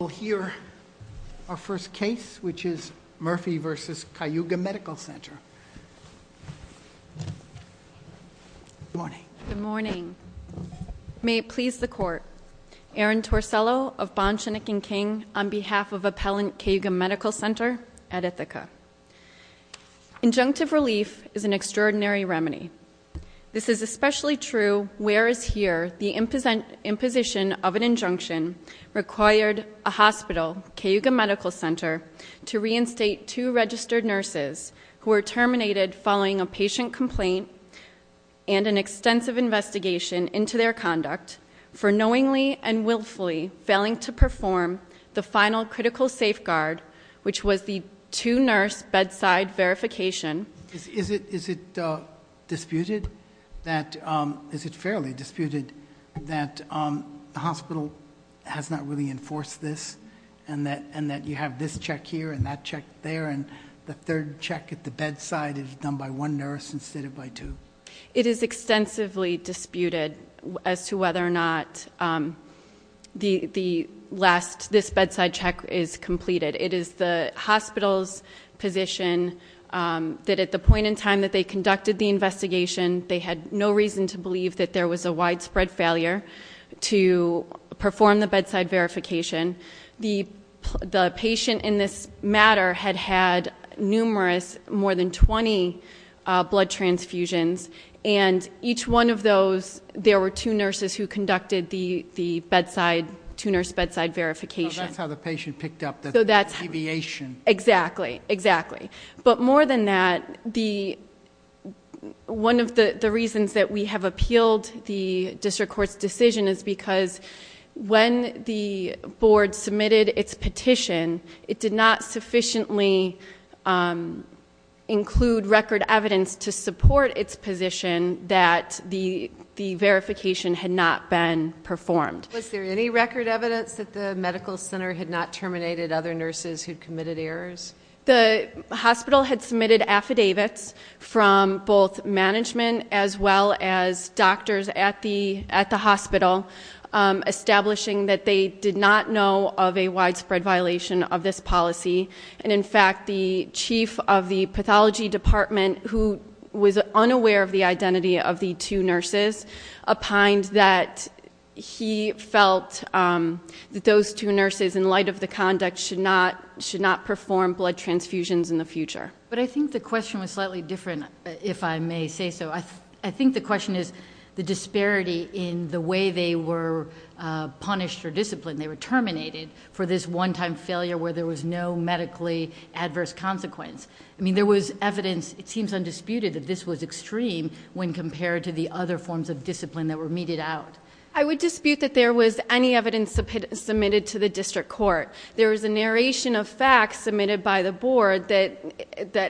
We'll hear our first case, which is Murphy v. Cayuga Medical Center. Good morning. Good morning. May it please the court. Erin Torsello of Bonshenick and King on behalf of Appellant Cayuga Medical Center at Ithaca. Injunctive relief is an extraordinary remedy. This is especially true whereas here the imposition of an injunction required a hospital, Cayuga Medical Center, to reinstate two registered nurses who were terminated following a patient complaint and an extensive investigation into their conduct. For knowingly and willfully failing to perform the final critical safeguard, which was the two nurse bedside verification. Is it disputed that, is it fairly disputed that the hospital has not really enforced this, and that you have this check here and that check there. And the third check at the bedside is done by one nurse instead of by two. It is extensively disputed as to whether or not the last, this bedside check is completed. It is the hospital's position that at the point in time that they conducted the investigation, they had no reason to believe that there was a widespread failure to perform the bedside verification. The patient in this matter had had numerous, more than 20 blood transfusions, and each one of those, there were two nurses who conducted the two nurse bedside verification. So that's how the patient picked up the deviation. Exactly, exactly. But more than that, one of the reasons that we have appealed the district court's decision is because when the board submitted its petition, it did not sufficiently include record evidence to support its position that the verification had not been performed. Was there any record evidence that the medical center had not terminated other nurses who'd committed errors? The hospital had submitted affidavits from both management as well as doctors at the hospital, establishing that they did not know of a widespread violation of this policy. And in fact, the chief of the pathology department, who was unaware of the identity of the two nurses, opined that he felt that those two nurses, in light of the conduct, should not perform blood transfusions in the future. But I think the question was slightly different, if I may say so. I think the question is the disparity in the way they were punished or disciplined. They were terminated for this one time failure where there was no medically adverse consequence. I mean, there was evidence, it seems undisputed, that this was extreme when compared to the other forms of discipline that were meted out. I would dispute that there was any evidence submitted to the district court. There was a narration of facts submitted by the board that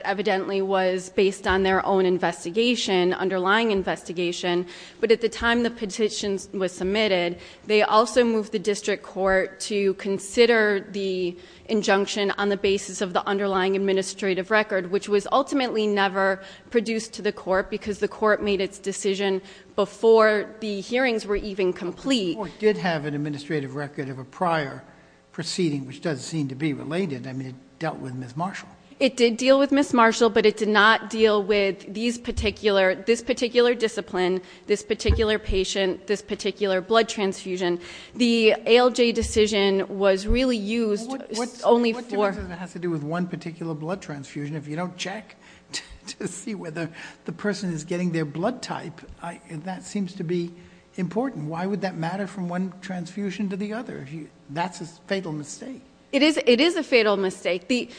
evidently was based on their own investigation, underlying investigation. But at the time the petition was submitted, they also moved the district court to consider the injunction on the basis of the underlying administrative record, which was ultimately never produced to the court because the court made its decision before the hearings were even complete. The court did have an administrative record of a prior proceeding, which does seem to be related. I mean, it dealt with Ms. Marshall. It did deal with Ms. Marshall, but it did not deal with this particular discipline, this particular patient, this particular blood transfusion. The ALJ decision was really used only for- What difference does it have to do with one particular blood transfusion if you don't check to see whether the person is getting their blood type? That seems to be important. Why would that matter from one transfusion to the other? That's a fatal mistake. It is a fatal mistake. The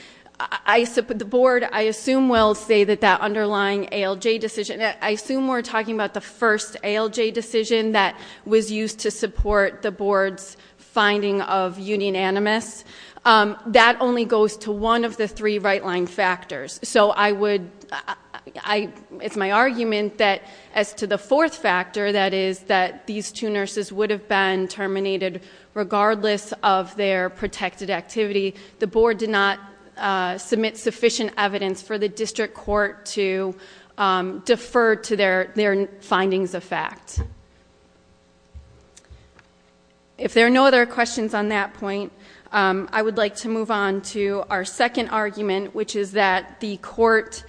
board, I assume, will say that that underlying ALJ decision, I assume we're talking about the first ALJ decision that was used to support the board's finding of union animus. That only goes to one of the three right line factors. So I would, it's my argument that as to the fourth factor, that is that these two nurses would have been terminated regardless of their protected activity. The board did not submit sufficient evidence for the district court to defer to their findings of fact. If there are no other questions on that point, I would like to move on to our second argument, which is that the court,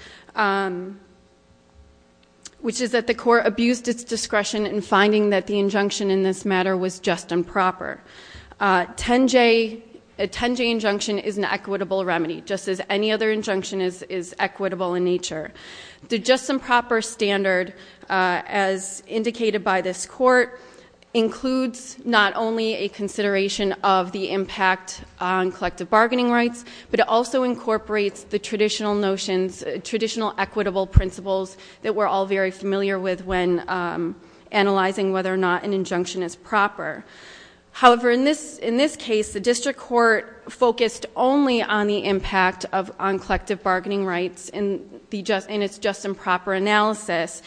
which is that the court abused its discretion in finding that the injunction in this matter was just and proper. A 10-J injunction is an equitable remedy, just as any other injunction is equitable in nature. The just and proper standard, as indicated by this court, includes not only a consideration of the impact on collective bargaining rights, but it also incorporates the traditional notions, traditional equitable principles that we're all very familiar with when analyzing whether or not an injunction is proper. However, in this case, the district court focused only on the impact on collective bargaining rights in its just and proper analysis.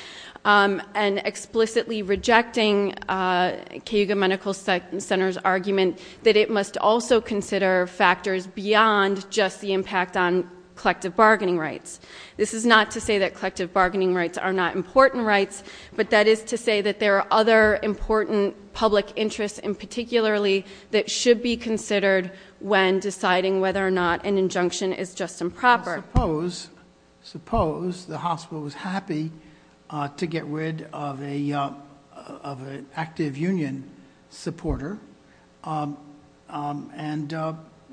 And explicitly rejecting Cayuga Medical Center's argument that it must also consider factors beyond just the impact on collective bargaining rights. This is not to say that collective bargaining rights are not important rights, but that is to say that there are other important public interests and particularly that should be considered when deciding whether or not an injunction is just and proper. Suppose the hospital was happy to get rid of an active union supporter.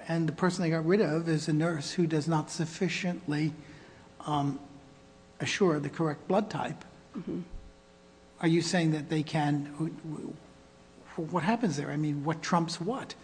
And the person they got rid of is a nurse who does not sufficiently assure the correct blood type. Are you saying that they can, what happens there? I mean, what trumps what?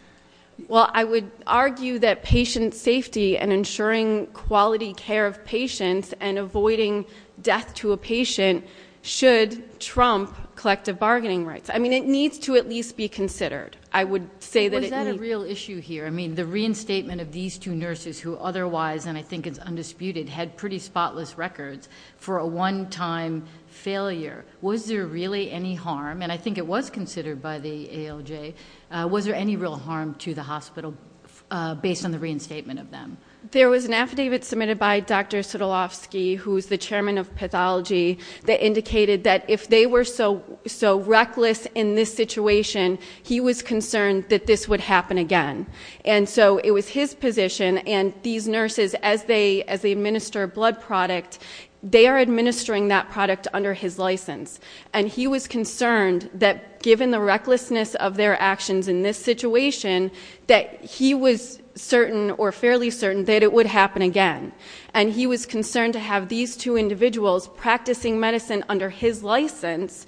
Well, I would argue that patient safety and ensuring quality care of patients and avoiding death to a patient should trump collective bargaining rights. I mean, it needs to at least be considered. I would say that- Was that a real issue here? I mean, the reinstatement of these two nurses who otherwise, and I think it's undisputed, had pretty spotless records for a one time failure. Was there really any harm? And I think it was considered by the ALJ. Was there any real harm to the hospital based on the reinstatement of them? There was an affidavit submitted by Dr. Sotolofsky, who's the chairman of pathology, that indicated that if they were so reckless in this situation, he was concerned that this would happen again. And so it was his position, and these nurses, as they administer a blood product, they are administering that product under his license. And he was concerned that given the recklessness of their actions in this situation, that he was certain, or fairly certain, that it would happen again. And he was concerned to have these two individuals practicing medicine under his license,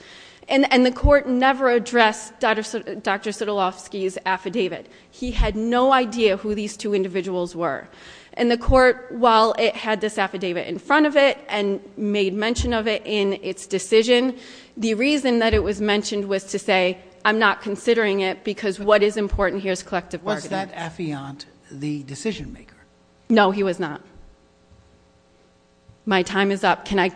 and the court never addressed Dr. Sotolofsky's affidavit. He had no idea who these two individuals were. And the court, while it had this affidavit in front of it, and made mention of it in its decision, the reason that it was mentioned was to say, I'm not considering it because what is important here is collective bargaining. Was that affiant the decision maker? No, he was not. My time is up. Can I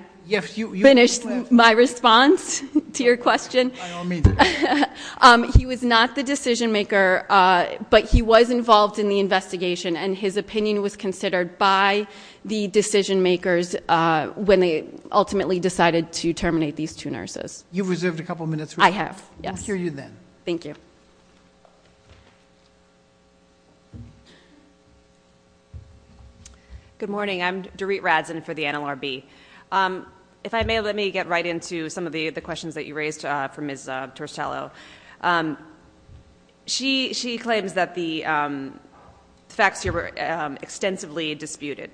finish my response to your question? I don't mean to. He was not the decision maker, but he was involved in the investigation, and his opinion was considered by the decision makers when they ultimately decided to terminate these two nurses. You've reserved a couple minutes. I have, yes. We'll hear you then. Thank you. Good morning. I'm Dorit Radzen for the NLRB. If I may, let me get right into some of the questions that you raised from Ms. Tercello. She claims that the facts here were extensively disputed.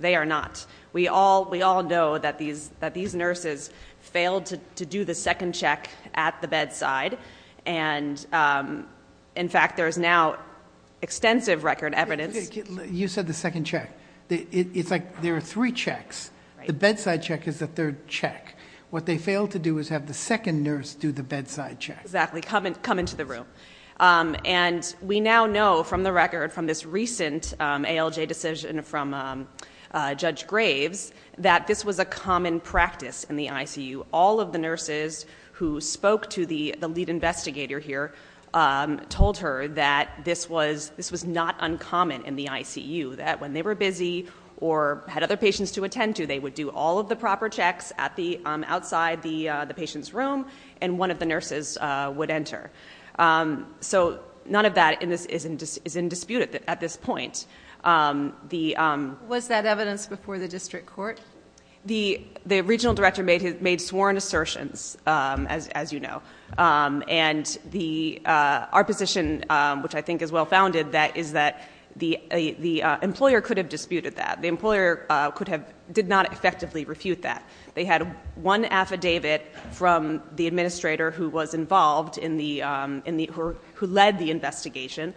They are not. We all know that these nurses failed to do the second check at the bedside. And in fact, there is now extensive record evidence- You said the second check. It's like there are three checks. The bedside check is the third check. What they failed to do is have the second nurse do the bedside check. Exactly, come into the room. And we now know from the record, from this recent ALJ decision from Judge Graves, that this was a common practice in the ICU. All of the nurses who spoke to the lead investigator here told her that this was not uncommon in the ICU. That when they were busy or had other patients to attend to, they would do all of the proper checks outside the patient's room. And one of the nurses would enter. So none of that is in dispute at this point. Was that evidence before the district court? The regional director made sworn assertions, as you know. And our position, which I think is well founded, that is that the employer could have disputed that. The employer did not effectively refute that. They had one affidavit from the administrator who was involved in the, who led the investigation.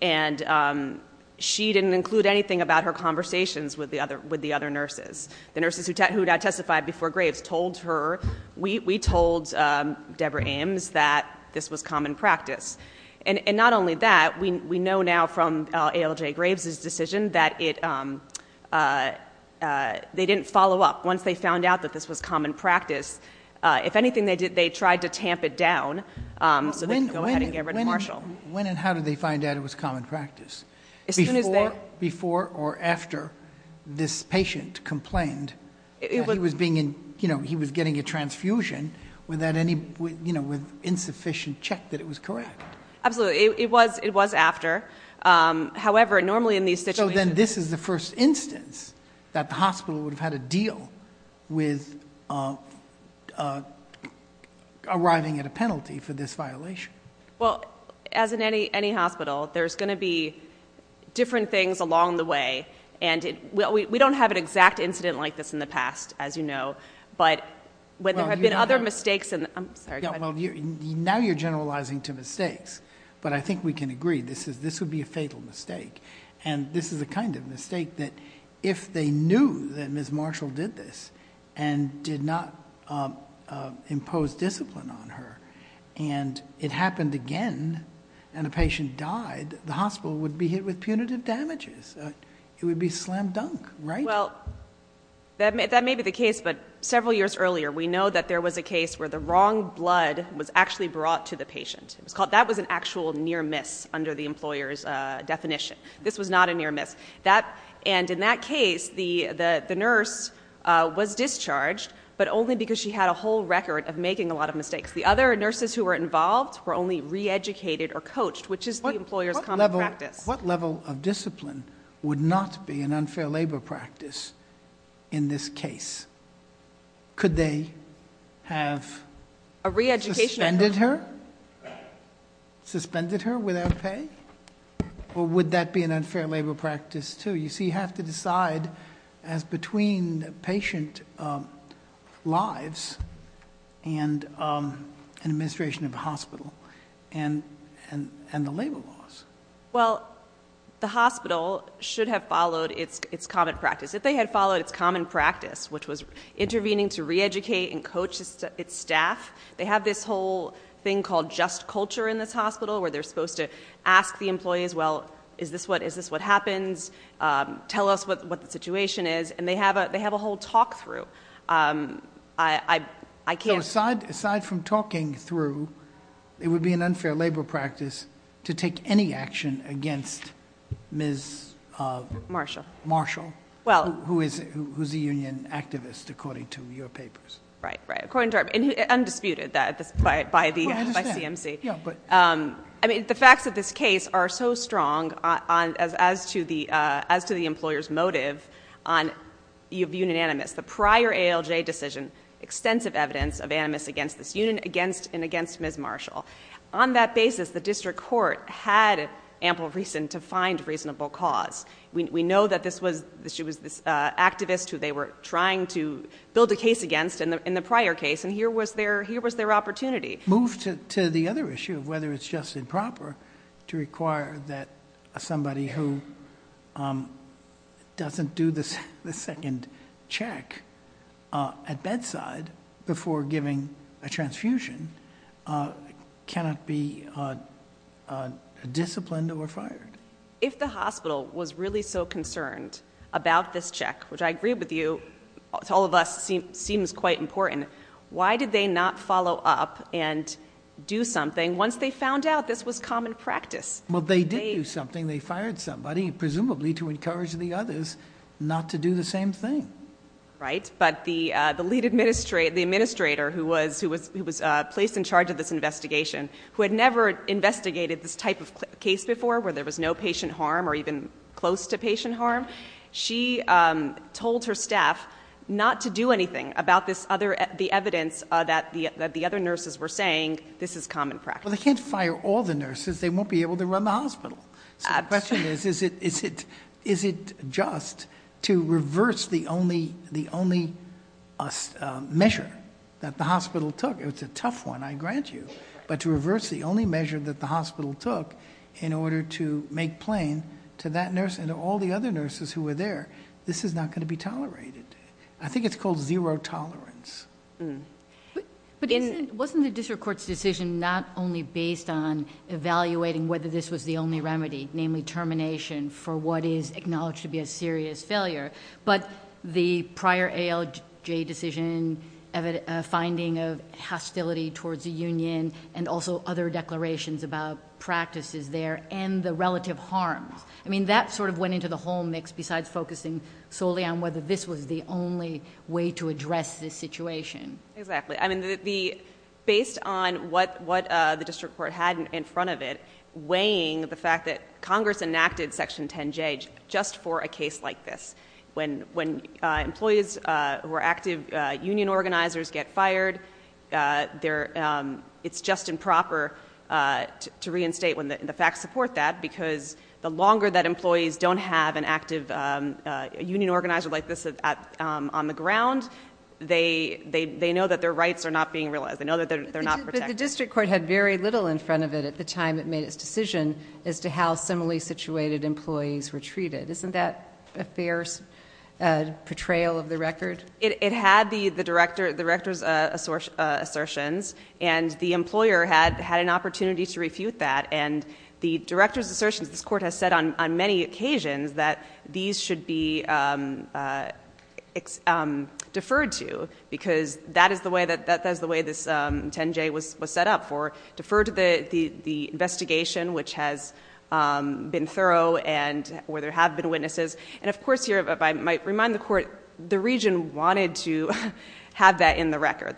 And she didn't include anything about her conversations with the other nurses. The nurses who had testified before Graves told her, we told Debra Ames that this was common practice. And not only that, we know now from ALJ Graves' decision that it, they didn't follow up. Once they found out that this was common practice, if anything they did, they tried to tamp it down so they could go ahead and get rid of Marshall. When and how did they find out it was common practice? As soon as they- Before or after this patient complained. He was getting a transfusion with insufficient check that it was correct. Absolutely, it was after. However, normally in these situations- So then this is the first instance that the hospital would have had a deal with arriving at a penalty for this violation. Well, as in any hospital, there's going to be different things along the way. And we don't have an exact incident like this in the past, as you know. But when there have been other mistakes in, I'm sorry, go ahead. Now you're generalizing to mistakes. But I think we can agree, this would be a fatal mistake. And this is the kind of mistake that if they knew that Ms. Marshall did this and did not impose discipline on her. And it happened again, and the patient died, the hospital would be hit with punitive damages. It would be slam dunk, right? Well, that may be the case, but several years earlier, we know that there was a case where the wrong blood was actually brought to the patient. It was called, that was an actual near miss under the employer's definition. This was not a near miss. And in that case, the nurse was discharged, but only because she had a whole record of making a lot of mistakes. The other nurses who were involved were only re-educated or coached, which is the employer's common practice. What level of discipline would not be an unfair labor practice in this case? Could they have- A re-education. Suspended her? Suspended her without pay? Or would that be an unfair labor practice too? You see, you have to decide as between patient lives and administration of the hospital and the labor laws. Well, the hospital should have followed its common practice. If they had followed its common practice, which was intervening to re-educate and coach its staff, they have this whole thing called just culture in this hospital, where they're supposed to ask the employees, well, is this what happens? Tell us what the situation is, and they have a whole talk through. I can't- Aside from talking through, it would be an unfair labor practice to take any action against Ms- Marshall. Marshall, who's a union activist according to your papers. Right, right, according to our, and undisputed by CMC. Yeah, but- I mean, the facts of this case are so strong as to the employer's motive on the union animus, the prior ALJ decision, extensive evidence of animus against this union and against Ms. Marshall. On that basis, the district court had ample reason to find reasonable cause. We know that this was, she was this activist who they were trying to build a case against in the prior case, and here was their opportunity. Move to the other issue of whether it's just improper to require that somebody who doesn't do the second check at bedside before giving a transfusion cannot be disciplined or fired. If the hospital was really so concerned about this check, which I agree with you, to all of us seems quite important. Why did they not follow up and do something once they found out this was common practice? Well, they did do something. They fired somebody, presumably to encourage the others not to do the same thing. Right, but the lead administrator who was placed in charge of this investigation, who had never investigated this type of case before where there was no patient harm or even close to patient harm. She told her staff not to do anything about the evidence that the other nurses were saying this is common practice. Well, they can't fire all the nurses. They won't be able to run the hospital. So the question is, is it just to reverse the only measure that the hospital took, it's a tough one, I grant you. But to reverse the only measure that the hospital took in order to make plain to that nurse and to all the other nurses who were there, this is not going to be tolerated. I think it's called zero tolerance. But wasn't the district court's decision not only based on evaluating whether this was the only remedy, namely termination for what is acknowledged to be a serious failure. But the prior ALJ decision, a finding of hostility towards the union and also other declarations about practices there and the relative harm. I mean, that sort of went into the whole mix besides focusing solely on whether this was the only way to address this situation. Exactly, I mean, based on what the district court had in front of it, weighing the fact that Congress enacted section 10J just for a case like this. When employees who are active union organizers get fired, it's just improper to reinstate when the facts support that. Because the longer that employees don't have an active union organizer like this on the ground, they know that their rights are not being realized, they know that they're not protected. But the district court had very little in front of it at the time it made its decision as to how similarly situated employees were treated. Isn't that a fair portrayal of the record? It had the director's assertions, and the employer had an opportunity to refute that. And the director's assertions, this court has said on many occasions that these should be deferred to because that is the way this 10J was set up for. Deferred to the investigation which has been thorough and where there have been witnesses. And of course here, if I might remind the court, the region wanted to have that in the record.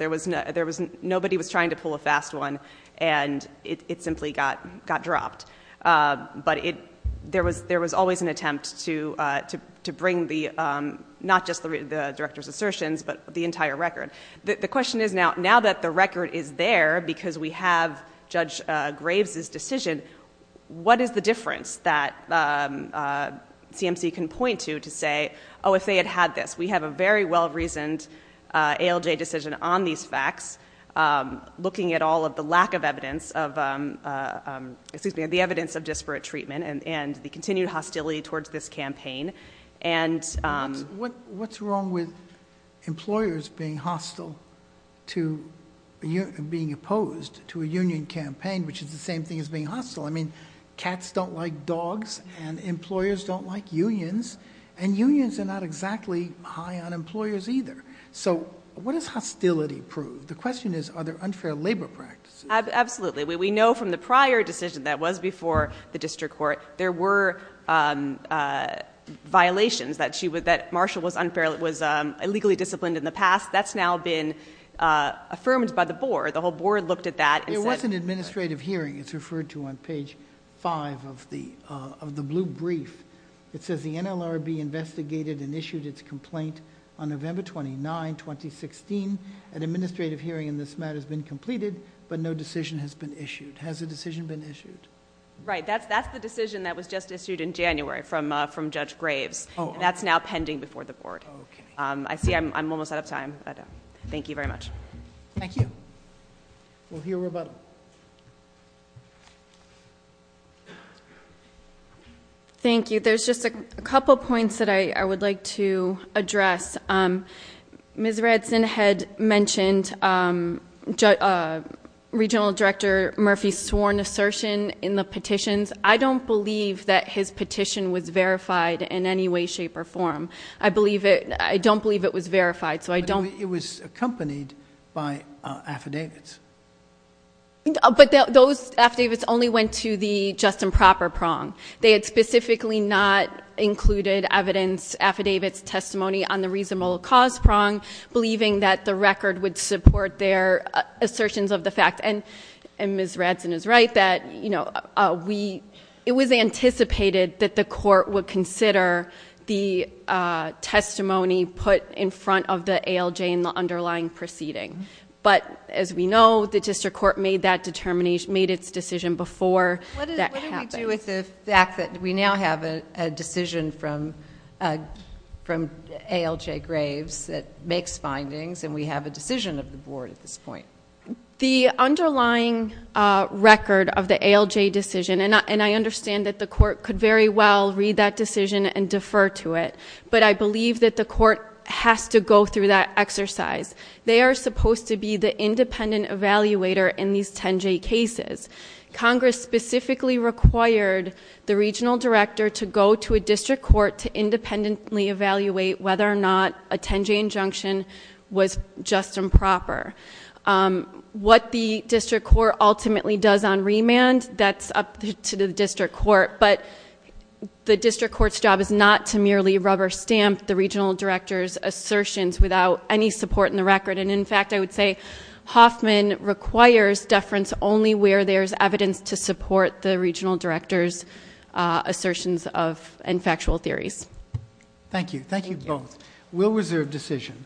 Nobody was trying to pull a fast one, and it simply got dropped. But there was always an attempt to bring not just the director's assertions, but the entire record. The question is now that the record is there, because we have Judge Graves' decision, what is the difference that CMC can point to to say, if they had had this. We have a very well reasoned ALJ decision on these facts. Looking at all of the lack of evidence of, excuse me, the evidence of disparate treatment and the continued hostility towards this campaign. And- I mean, cats don't like dogs, and employers don't like unions. And unions are not exactly high on employers either. So what does hostility prove? The question is, are there unfair labor practices? Absolutely, we know from the prior decision that was before the district court, there were violations that she would, that Marshall was unfairly, was illegally disciplined in the past. That's now been affirmed by the board. The whole board looked at that and said- It's referred to on page five of the blue brief. It says the NLRB investigated and issued its complaint on November 29, 2016. An administrative hearing in this matter has been completed, but no decision has been issued. Has a decision been issued? Right, that's the decision that was just issued in January from Judge Graves. That's now pending before the board. I see I'm almost out of time. Thank you very much. Thank you. We'll hear rebuttal. Thank you, there's just a couple points that I would like to address. Ms. Redson had mentioned Regional Director Murphy's sworn assertion in the petitions. I don't believe that his petition was verified in any way, shape, or form. I believe it, I don't believe it was verified, so I don't- It was accompanied by affidavits. But those affidavits only went to the just and proper prong. They had specifically not included evidence, affidavits, testimony on the reasonable cause prong, believing that the record would support their assertions of the fact. And Ms. Redson is right that it was anticipated that the court would consider the testimony put in front of the ALJ in the underlying proceeding. But as we know, the district court made that determination, made its decision before that happened. What do we do with the fact that we now have a decision from ALJ Graves that makes findings, and we have a decision of the board at this point? The underlying record of the ALJ decision, and I understand that the court could very well read that decision and defer to it. But I believe that the court has to go through that exercise. They are supposed to be the independent evaluator in these 10-J cases. Congress specifically required the regional director to go to a district court to independently evaluate whether or not a 10-J injunction was just and proper. What the district court ultimately does on remand, that's up to the district court. But the district court's job is not to merely rubber stamp the regional director's support in the record, and in fact I would say Hoffman requires deference only where there's evidence to support the regional director's assertions and factual theories. Thank you, thank you both. We'll reserve decision.